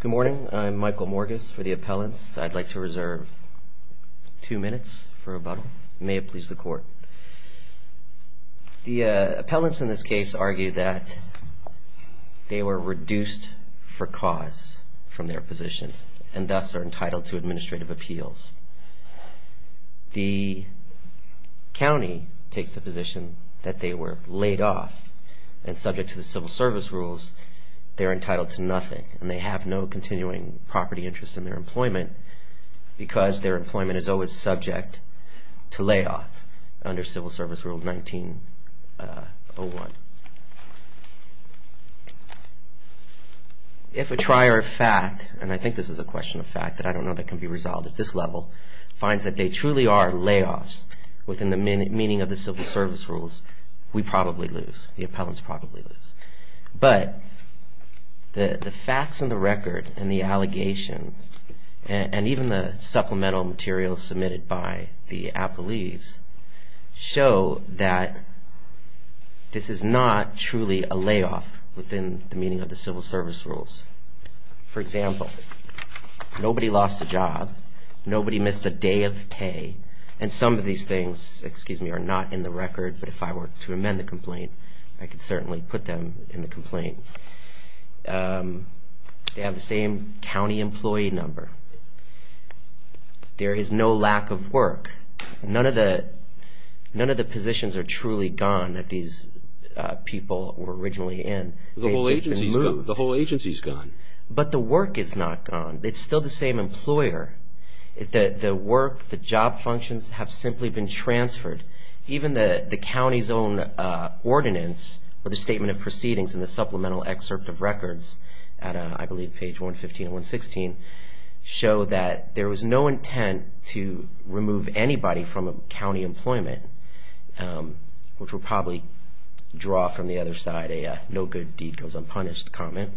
Good morning, I'm Michael Morges for the appellants. I'd like to reserve two minutes for rebuttal. May it please the court. The appellants in this case argue that they were reduced for cause from their positions and thus are entitled to administrative appeals. The county takes the position that they were laid off and subject to the civil service rules, they're entitled to nothing. And they have no continuing property interest in their employment because their employment is always subject to layoff under Civil Service Rule 1901. If a trier of fact, and I think this is a question of fact that I don't know that can be resolved at this level, finds that they truly are layoffs within the meaning of the Civil Service Rules, we probably lose, the appellants probably lose. But the facts in the record and the allegations and even the supplemental materials submitted by the appellees show that this is not truly a layoff within the meaning of the Civil Service Rules. For example, nobody lost a job, nobody missed a day of pay, and some of these things, excuse me, are not in the record. But if I were to amend the complaint, I could certainly put them in the complaint. They have the same county employee number. There is no lack of work. None of the positions are truly gone that these people were originally in. The whole agency's gone. But the work is not gone. It's still the same employer. The work, the job functions have simply been transferred. Even the county's own ordinance or the statement of proceedings in the supplemental excerpt of records at, I believe, page 115 and 116, show that there was no intent to remove anybody from a county employment, which would probably draw from the other side a no good deed goes unpunished comment.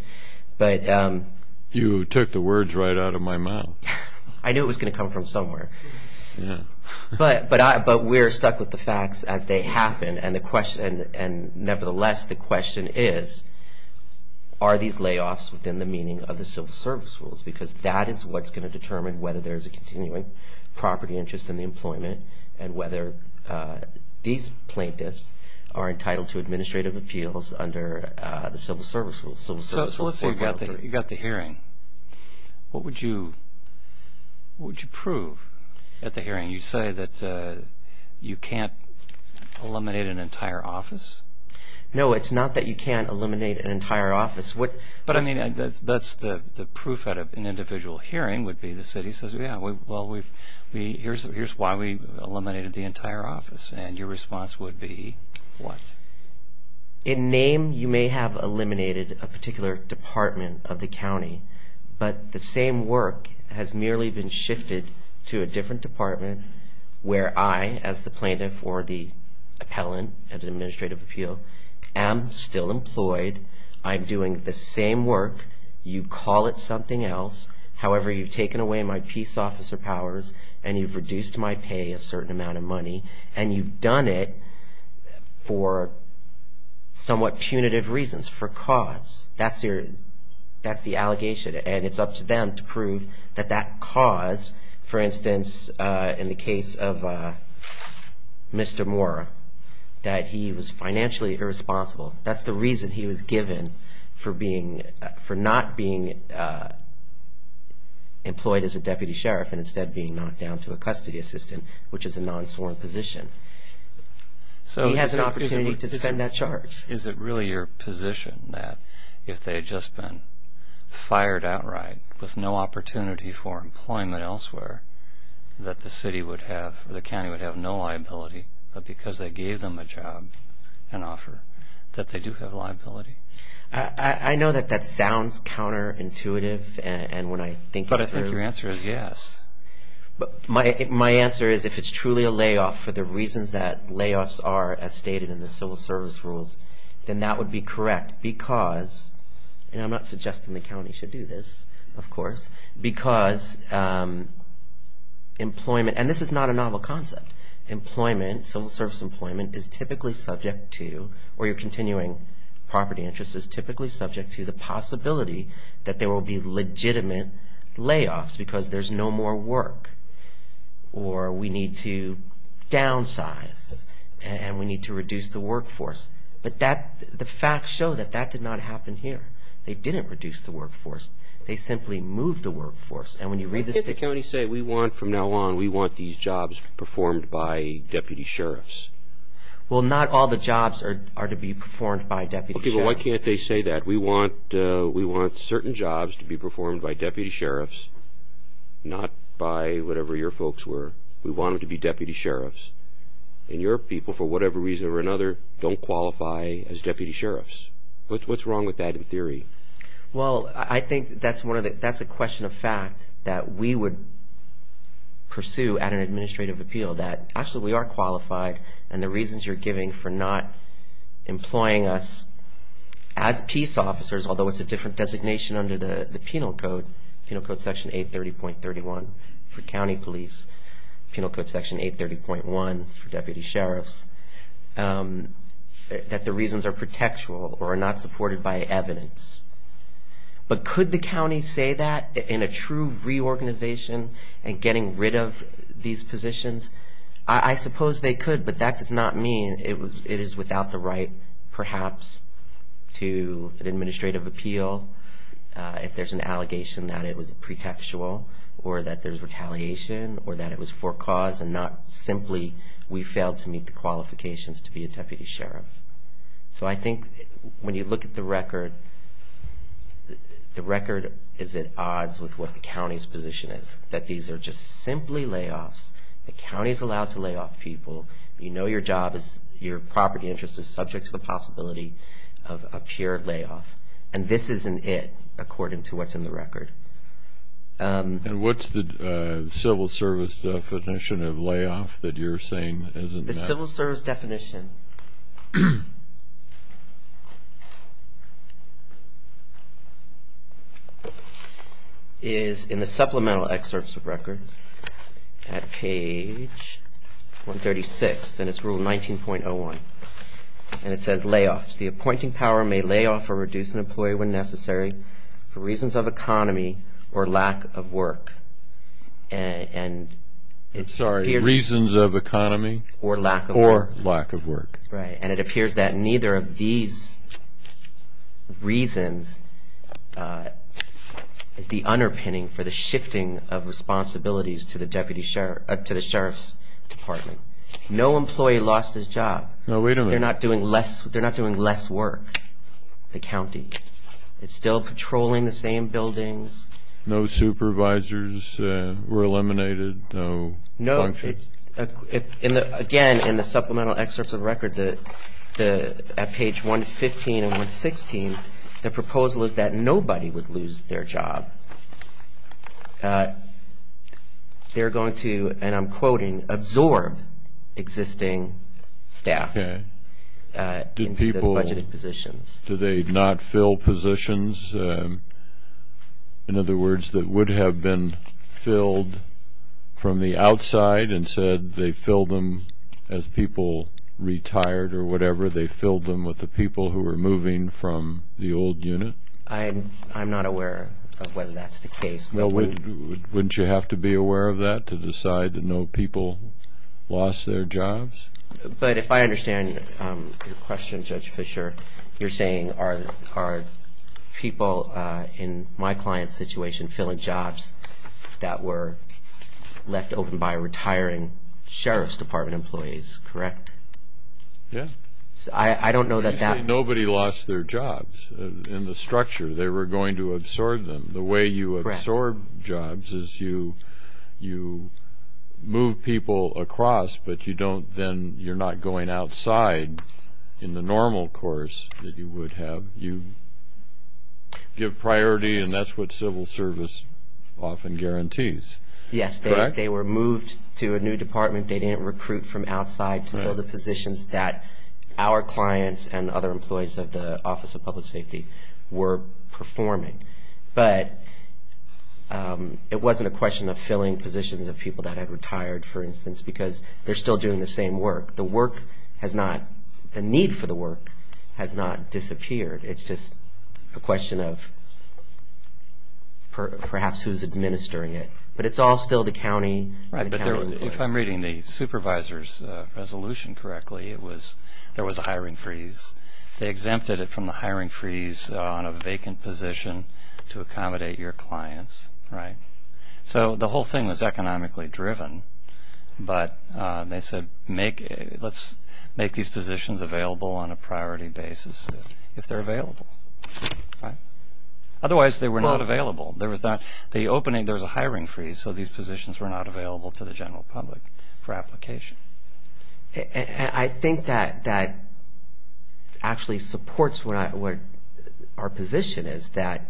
You took the words right out of my mouth. I knew it was going to come from somewhere. But we're stuck with the facts as they happen. And nevertheless, the question is, are these layoffs within the meaning of the Civil Service Rules? Because that is what's going to determine whether there's a continuing property interest in the employment and whether these plaintiffs are entitled to administrative appeals under the Civil Service Rules. So let's say you got the hearing. What would you prove at the hearing? You say that you can't eliminate an entire office? No, it's not that you can't eliminate an entire office. But, I mean, that's the proof at an individual hearing would be the city says, yeah, well, here's why we eliminated the entire office. And your response would be what? In name, you may have eliminated a particular department of the county. But the same work has merely been shifted to a different department where I, as the plaintiff or the appellant at an administrative appeal, am still employed. I'm doing the same work. You call it something else. However, you've taken away my peace officer powers and you've reduced my pay a certain amount of money. And you've done it for somewhat punitive reasons, for cause. That's the allegation. And it's up to them to prove that that cause, for instance, in the case of Mr. Moore, that he was financially irresponsible. That's the reason he was given for not being employed as a deputy sheriff and instead being knocked down to a custody assistant, which is a non-sworn position. He has an opportunity to defend that charge. Is it really your position that if they had just been fired outright with no opportunity for employment elsewhere, that the city would have, or the county would have no liability, but because they gave them a job, an offer, that they do have liability? I know that that sounds counterintuitive. But I think your answer is yes. My answer is if it's truly a layoff for the reasons that layoffs are, as stated in the civil service rules, then that would be correct because, and I'm not suggesting the county should do this, of course, because employment, and this is not a novel concept, employment, civil service employment, is typically subject to, or your continuing property interest is typically subject to, the possibility that there will be legitimate layoffs because there's no more work or we need to downsize and we need to reduce the workforce. But the facts show that that did not happen here. They didn't reduce the workforce. They simply moved the workforce. And when you read the state... Why can't the county say we want, from now on, we want these jobs performed by deputy sheriffs? Well, not all the jobs are to be performed by deputy sheriffs. Okay, but why can't they say that? We want certain jobs to be performed by deputy sheriffs, not by whatever your folks were. We want them to be deputy sheriffs. And your people, for whatever reason or another, don't qualify as deputy sheriffs. What's wrong with that in theory? Well, I think that's a question of fact that we would pursue at an administrative appeal, that actually we are qualified and the reasons you're giving for not employing us as peace officers, although it's a different designation under the penal code, Penal Code Section 830.31 for county police, Penal Code Section 830.1 for deputy sheriffs, that the reasons are protectual or are not supported by evidence. But could the county say that in a true reorganization and getting rid of these positions? I suppose they could, but that does not mean it is without the right, perhaps, to an administrative appeal if there's an allegation that it was pretextual or that there's retaliation or that it was for cause and not simply we failed to meet the qualifications to be a deputy sheriff. So I think when you look at the record, the record is at odds with what the county's position is, that these are just simply layoffs. The county is allowed to lay off people. You know your job is, your property interest is subject to the possibility of a pure layoff. And this isn't it, according to what's in the record. And what's the civil service definition of layoff that you're saying isn't that? The civil service definition is in the supplemental excerpts of records at page 136, and it's rule 19.01. And it says layoffs. The appointing power may lay off or reduce an employee when necessary for reasons of economy or lack of work. Sorry, reasons of economy or lack of work. Right. And it appears that neither of these reasons is the underpinning for the shifting of responsibilities to the sheriff's department. No employee lost his job. No, wait a minute. They're not doing less work, the county. It's still patrolling the same buildings. No supervisors were eliminated. No functions. Again, in the supplemental excerpts of the record at page 115 and 116, the proposal is that nobody would lose their job. They're going to, and I'm quoting, absorb existing staff into the budgeted positions. Do they not fill positions? In other words, that would have been filled from the outside and said they filled them as people retired or whatever, they filled them with the people who were moving from the old unit? I'm not aware of whether that's the case. Well, wouldn't you have to be aware of that to decide that no people lost their jobs? But if I understand your question, Judge Fischer, you're saying are people in my client's situation filling jobs that were left open by retiring sheriff's department employees, correct? Yes. I don't know that that was the case. You say nobody lost their jobs in the structure. They were going to absorb them. The way you absorb jobs is you move people across, but you don't then, you're not going outside in the normal course that you would have. You give priority, and that's what civil service often guarantees, correct? Yes. They were moved to a new department. They didn't recruit from outside to fill the positions that our clients and other employees of the Office of Public Safety were performing. But it wasn't a question of filling positions of people that had retired, for instance, because they're still doing the same work. The work has not, the need for the work has not disappeared. It's just a question of perhaps who's administering it. But it's all still the county. If I'm reading the supervisor's resolution correctly, there was a hiring freeze. They exempted it from the hiring freeze on a vacant position to accommodate your clients. So the whole thing was economically driven, but they said, let's make these positions available on a priority basis if they're available. Otherwise, they were not available. The opening, there was a hiring freeze, so these positions were not available to the general public for application. I think that actually supports what our position is, that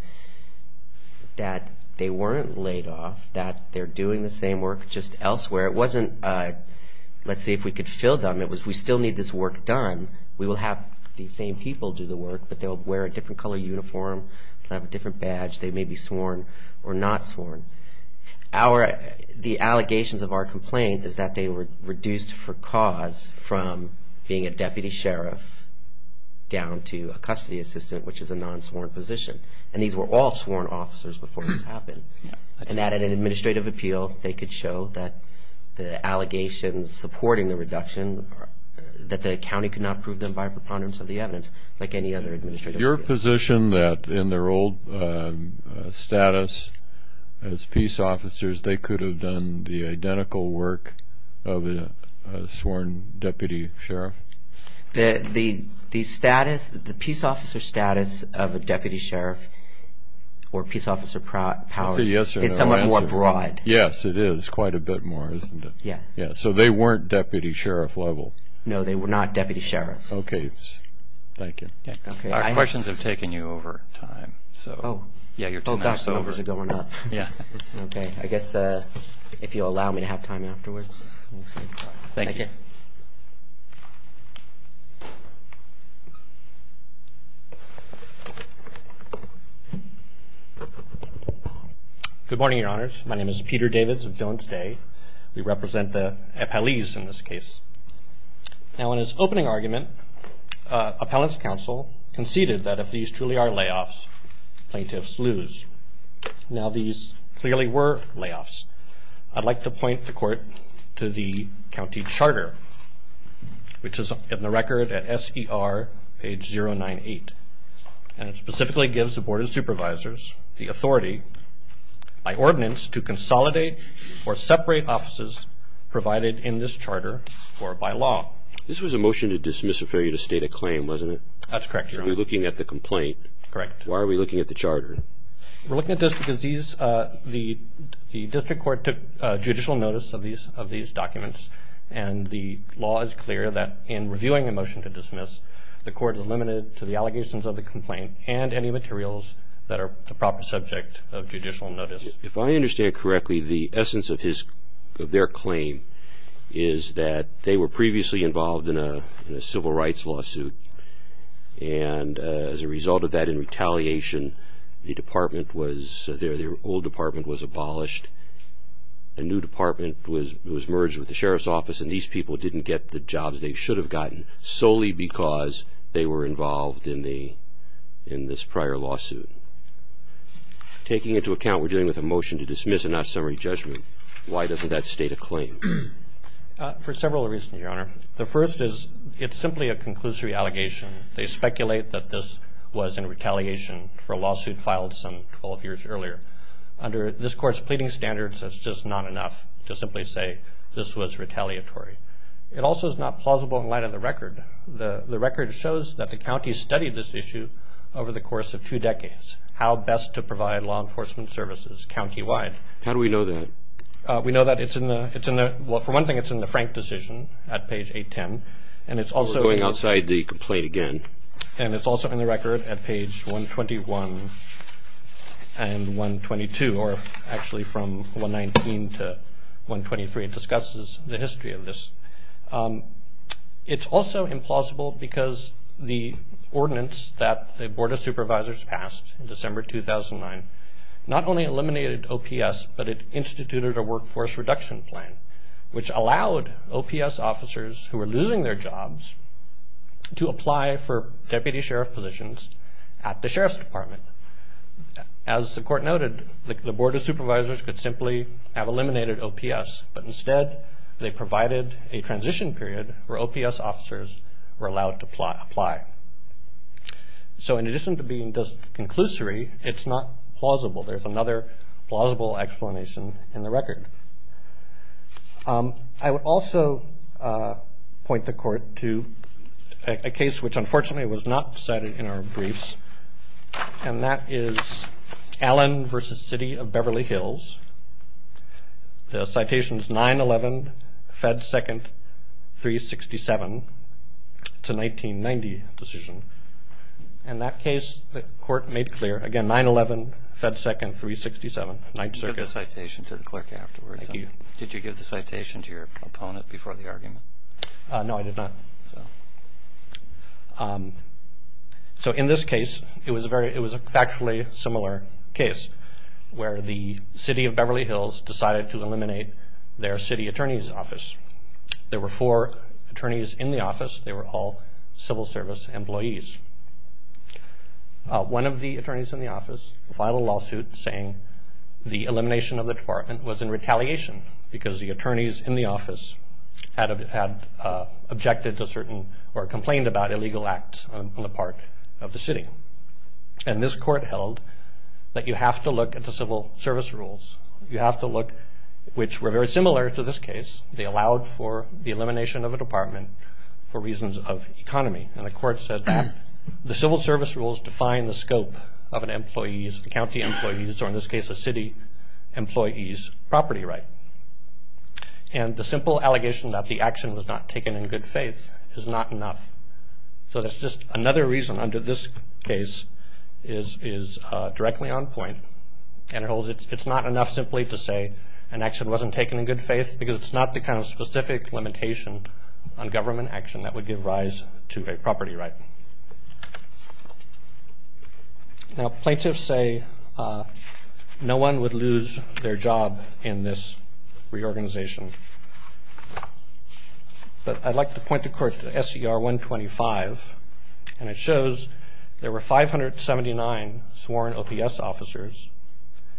they weren't laid off, that they're doing the same work just elsewhere. It wasn't let's see if we could fill them. It was we still need this work done. We will have these same people do the work, but they'll wear a different color uniform. They'll have a different badge. They may be sworn or not sworn. The allegations of our complaint is that they were reduced for cause from being a deputy sheriff down to a custody assistant, which is a non-sworn position. And these were all sworn officers before this happened. And that in an administrative appeal, they could show that the allegations supporting the reduction, that the county could not prove them by a preponderance of the evidence like any other administrative appeal. Is it your position that in their old status as peace officers, they could have done the identical work of a sworn deputy sheriff? The peace officer status of a deputy sheriff or peace officer powers is somewhat more broad. Yes, it is quite a bit more, isn't it? Yes. So they weren't deputy sheriff level? No, they were not deputy sheriffs. Okay. Thank you. Thank you. Our questions have taken you over time, so. Oh. Yeah, you're two minutes over. Oh, gosh, numbers are going up. Yeah. Okay. I guess if you'll allow me to have time afterwards, we'll see. Thank you. Thank you. Good morning, Your Honors. My name is Peter Davids of Jones Day. We represent the FLEs in this case. Now, in his opening argument, appellant's counsel conceded that if these truly are layoffs, plaintiffs lose. Now, these clearly were layoffs. I'd like to point the court to the county charter, which is in the record at SER, page 098. And it specifically gives the Board of Supervisors the authority, by ordinance, to consolidate or separate offices provided in this charter or by law. This was a motion to dismiss a failure to state a claim, wasn't it? That's correct, Your Honor. We're looking at the complaint. Correct. Why are we looking at the charter? We're looking at this because the district court took judicial notice of these documents, and the law is clear that in reviewing a motion to dismiss, the court is limited to the allegations of the complaint and any materials that are the proper subject of judicial notice. If I understand correctly, the essence of their claim is that they were previously involved in a civil rights lawsuit, and as a result of that, in retaliation, the old department was abolished. A new department was merged with the sheriff's office, and these people didn't get the jobs they should have gotten solely because they were involved in this prior lawsuit. Taking into account we're dealing with a motion to dismiss and not summary judgment, why doesn't that state a claim? For several reasons, Your Honor. The first is it's simply a conclusory allegation. They speculate that this was in retaliation for a lawsuit filed some 12 years earlier. Under this Court's pleading standards, that's just not enough to simply say this was retaliatory. It also is not plausible in light of the record. The record shows that the county studied this issue over the course of two decades, how best to provide law enforcement services countywide. How do we know that? We know that it's in the, for one thing, it's in the Frank decision at page 810, and it's also in the record at page 121 and 122, or actually from 119 to 123, it discusses the history of this. It's also implausible because the ordinance that the Board of Supervisors passed in December 2009 not only eliminated OPS, but it instituted a workforce reduction plan, which allowed OPS officers who were losing their jobs to apply for deputy sheriff positions at the Sheriff's Department. As the Court noted, the Board of Supervisors could simply have eliminated OPS, but instead they provided a transition period where OPS officers were allowed to apply. So in addition to being just conclusory, it's not plausible. There's another plausible explanation in the record. I would also point the Court to a case which unfortunately was not cited in our briefs, and that is Allen v. City of Beverly Hills. The citation is 9-11-Fed 2nd-367. It's a 1990 decision. In that case, the Court made clear, again, 9-11-Fed 2nd-367. You have the citation to the clerk afterwards. Thank you. Did you give the citation to your opponent before the argument? No, I did not. So in this case, it was a factually similar case where the City of Beverly Hills decided to eliminate their city attorney's office. There were four attorneys in the office. They were all civil service employees. One of the attorneys in the office filed a lawsuit saying the elimination of the department was in retaliation because the attorneys in the office had objected to certain or complained about illegal acts on the part of the city. And this court held that you have to look at the civil service rules. You have to look, which were very similar to this case. They allowed for the elimination of a department for reasons of economy. And the court said that the civil service rules define the scope of an employee's, in this case a city employee's, property right. And the simple allegation that the action was not taken in good faith is not enough. So that's just another reason under this case is directly on point. And it holds it's not enough simply to say an action wasn't taken in good faith because it's not the kind of specific limitation on government action that would give rise to a property right. Now plaintiffs say no one would lose their job in this reorganization. But I'd like to point the court to SER 125, and it shows there were 579 sworn OPS officers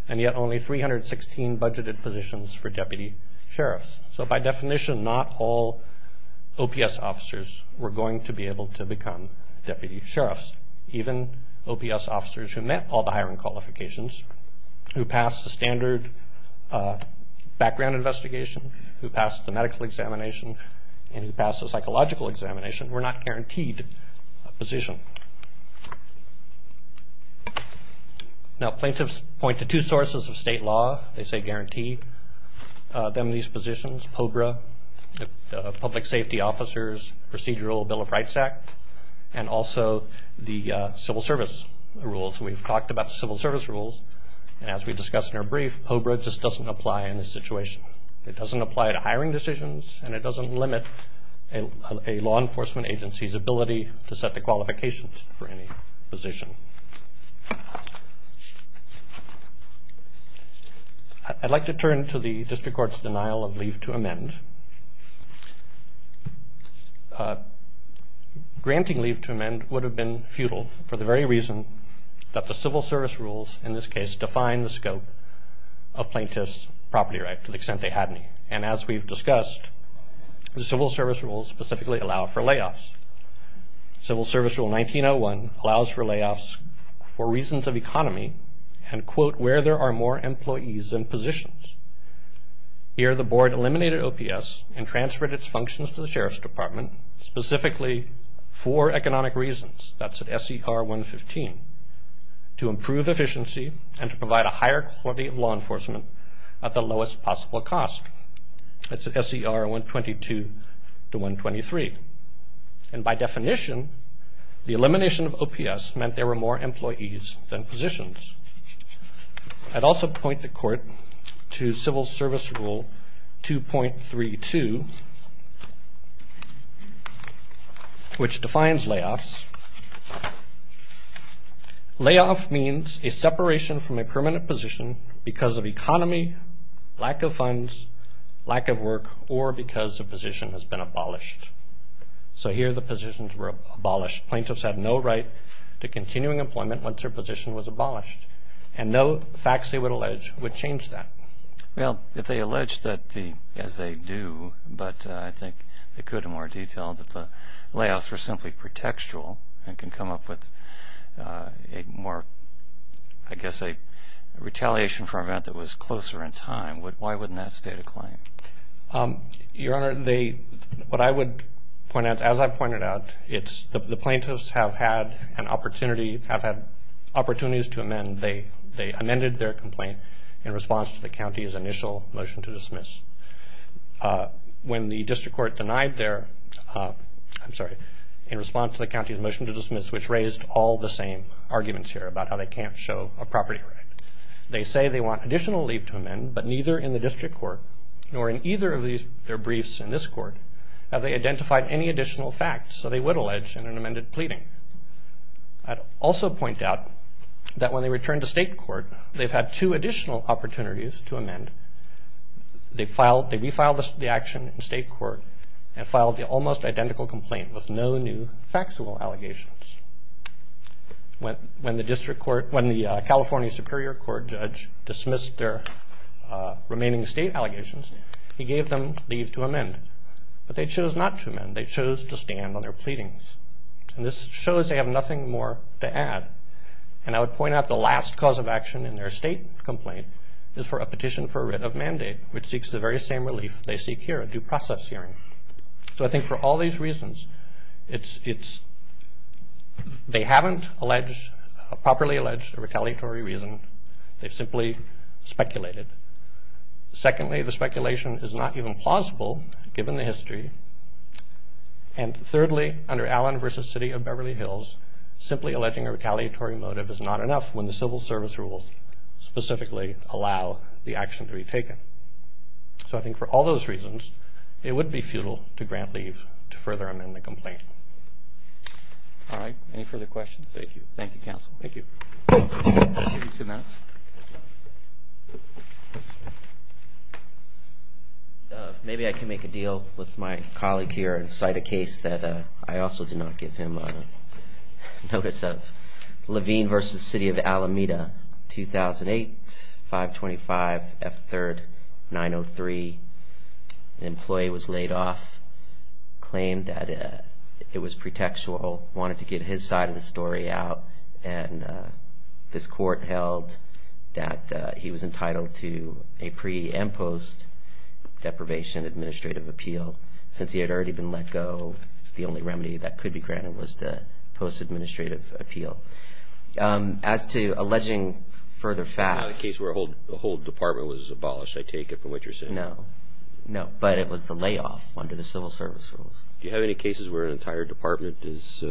and yet only 316 budgeted positions for deputy sheriffs. So by definition not all OPS officers were going to be able to become deputy sheriffs. Even OPS officers who met all the hiring qualifications, who passed the standard background investigation, who passed the medical examination, and who passed the psychological examination were not guaranteed a position. Now plaintiffs point to two sources of state law. They say guarantee them these positions, POBRA, Public Safety Officers Procedural Bill of Rights Act, and also the civil service rules. We've talked about the civil service rules. And as we discussed in our brief, POBRA just doesn't apply in this situation. It doesn't apply to hiring decisions, and it doesn't limit a law enforcement agency's ability to set the qualifications for any position. I'd like to turn to the district court's denial of leave to amend. Granting leave to amend would have been futile for the very reason that the civil service rules, in this case, define the scope of plaintiffs' property right to the extent they had any. And as we've discussed, the civil service rules specifically allow for layoffs. Civil Service Rule 1901 allows for layoffs for reasons of economy and, quote, where there are more employees than positions. Here the board eliminated OPS and transferred its functions to the Sheriff's Department, specifically for economic reasons, that's at SCR 115, to improve efficiency and to provide a higher quality of law enforcement at the lowest possible cost. That's at SCR 122 to 123. And by definition, the elimination of OPS meant there were more employees than positions. I'd also point the court to Civil Service Rule 2.32, which defines layoffs. Layoff means a separation from a permanent position because of economy, lack of funds, lack of work, or because a position has been abolished. So here the positions were abolished. Plaintiffs had no right to continuing employment once their position was abolished, and no facts they would allege would change that. Well, if they allege that as they do, but I think they could in more detail, that the layoffs were simply pretextual and can come up with a more, I guess, a retaliation for an event that was closer in time, why wouldn't that stay a claim? Your Honor, what I would point out, as I pointed out, the plaintiffs have had opportunities to amend. They amended their complaint in response to the county's initial motion to dismiss. When the district court denied their, I'm sorry, in response to the county's motion to dismiss, which raised all the same arguments here about how they can't show a property right. They say they want additional leave to amend, but neither in the district court nor in either of their briefs in this court have they identified any additional facts, so they would allege an amended pleading. I'd also point out that when they return to state court, they've had two additional opportunities to amend. They refiled the action in state court and filed the almost identical complaint with no new factual allegations. When the California Superior Court judge dismissed their remaining state allegations, he gave them leave to amend, but they chose not to amend. They chose to stand on their pleadings, and this shows they have nothing more to add. And I would point out the last cause of action in their state complaint is for a petition for a writ of mandate, which seeks the very same relief they seek here, a due process hearing. So I think for all these reasons, they haven't properly alleged a retaliatory reason. They've simply speculated. Secondly, the speculation is not even plausible, given the history. And thirdly, under Allen v. City of Beverly Hills, simply alleging a retaliatory motive is not enough when the civil service rules specifically allow the action to be taken. So I think for all those reasons, it would be futile to grant leave to further amend the complaint. All right. Any further questions? Thank you. Thank you, counsel. Thank you. I'll give you two minutes. Thank you. Maybe I can make a deal with my colleague here and cite a case that I also did not give him notice of. Levine v. City of Alameda, 2008, 525 F3rd 903. An employee was laid off, claimed that it was pretextual, wanted to get his side of the story out, and this court held that he was entitled to a pre- and post-deprivation administrative appeal. Since he had already been let go, the only remedy that could be granted was the post-administrative appeal. As to alleging further facts. It's not a case where the whole department was abolished, I take it, from what you're saying. No. No. But it was the layoff under the civil service rules. Do you have any cases where an entire department is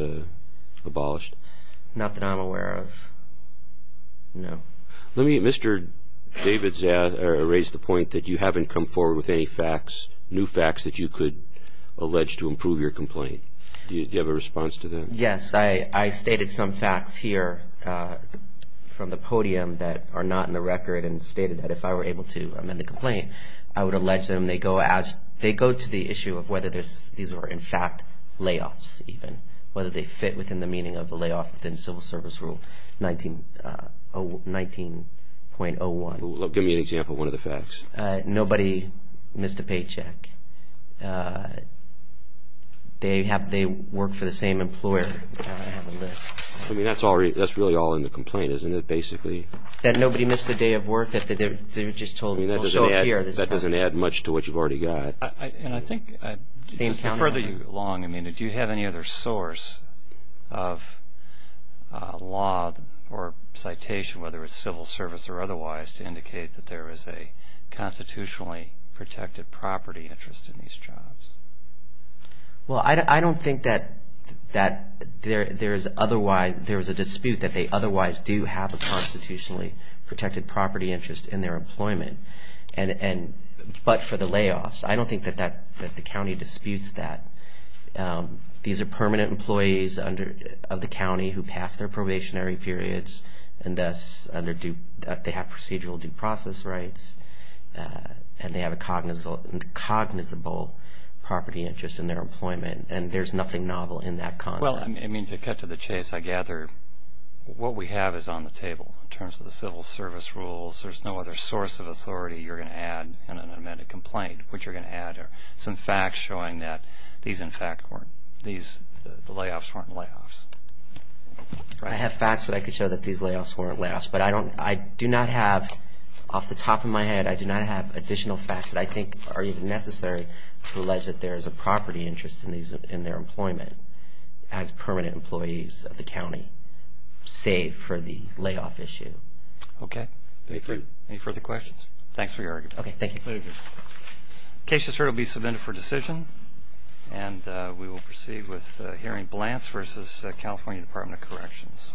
abolished? Not that I'm aware of, no. Mr. Davidza raised the point that you haven't come forward with any facts, new facts that you could allege to improve your complaint. Do you have a response to that? Yes. I stated some facts here from the podium that are not in the record and stated that if I were able to amend the complaint, I would allege them. They go to the issue of whether these were in fact layoffs even, whether they fit within the meaning of the layoff within civil service rule 19.01. Give me an example of one of the facts. Nobody missed a paycheck. They work for the same employer on the list. That's really all in the complaint, isn't it, basically? That nobody missed a day of work, that they're just told, we'll show up here this time. That doesn't add much to what you've already got. To further you along, do you have any other source of law or citation, whether it's civil service or otherwise, to indicate that there is a constitutionally protected property interest in these jobs? Well, I don't think that there's a dispute that they otherwise do have a constitutionally protected property interest in their employment, but for the layoffs. I don't think that the county disputes that. These are permanent employees of the county who passed their probationary periods, and thus they have procedural due process rights, and they have a cognizable property interest in their employment, and there's nothing novel in that concept. Well, I mean, to cut to the chase, I gather what we have is on the table. In terms of the civil service rules, there's no other source of authority you're going to add in an amended complaint. What you're going to add are some facts showing that these layoffs weren't layoffs. I have facts that I could show that these layoffs weren't layoffs, but I do not have, off the top of my head, I do not have additional facts that I think are even necessary to allege that there is a property interest in their employment as permanent employees of the county, save for the layoff issue. Okay. Thank you. Any further questions? Thanks for your argument. Okay, thank you. Very good. The case has heard will be submitted for decision, and we will proceed with hearing Blants v. California Department of Corrections.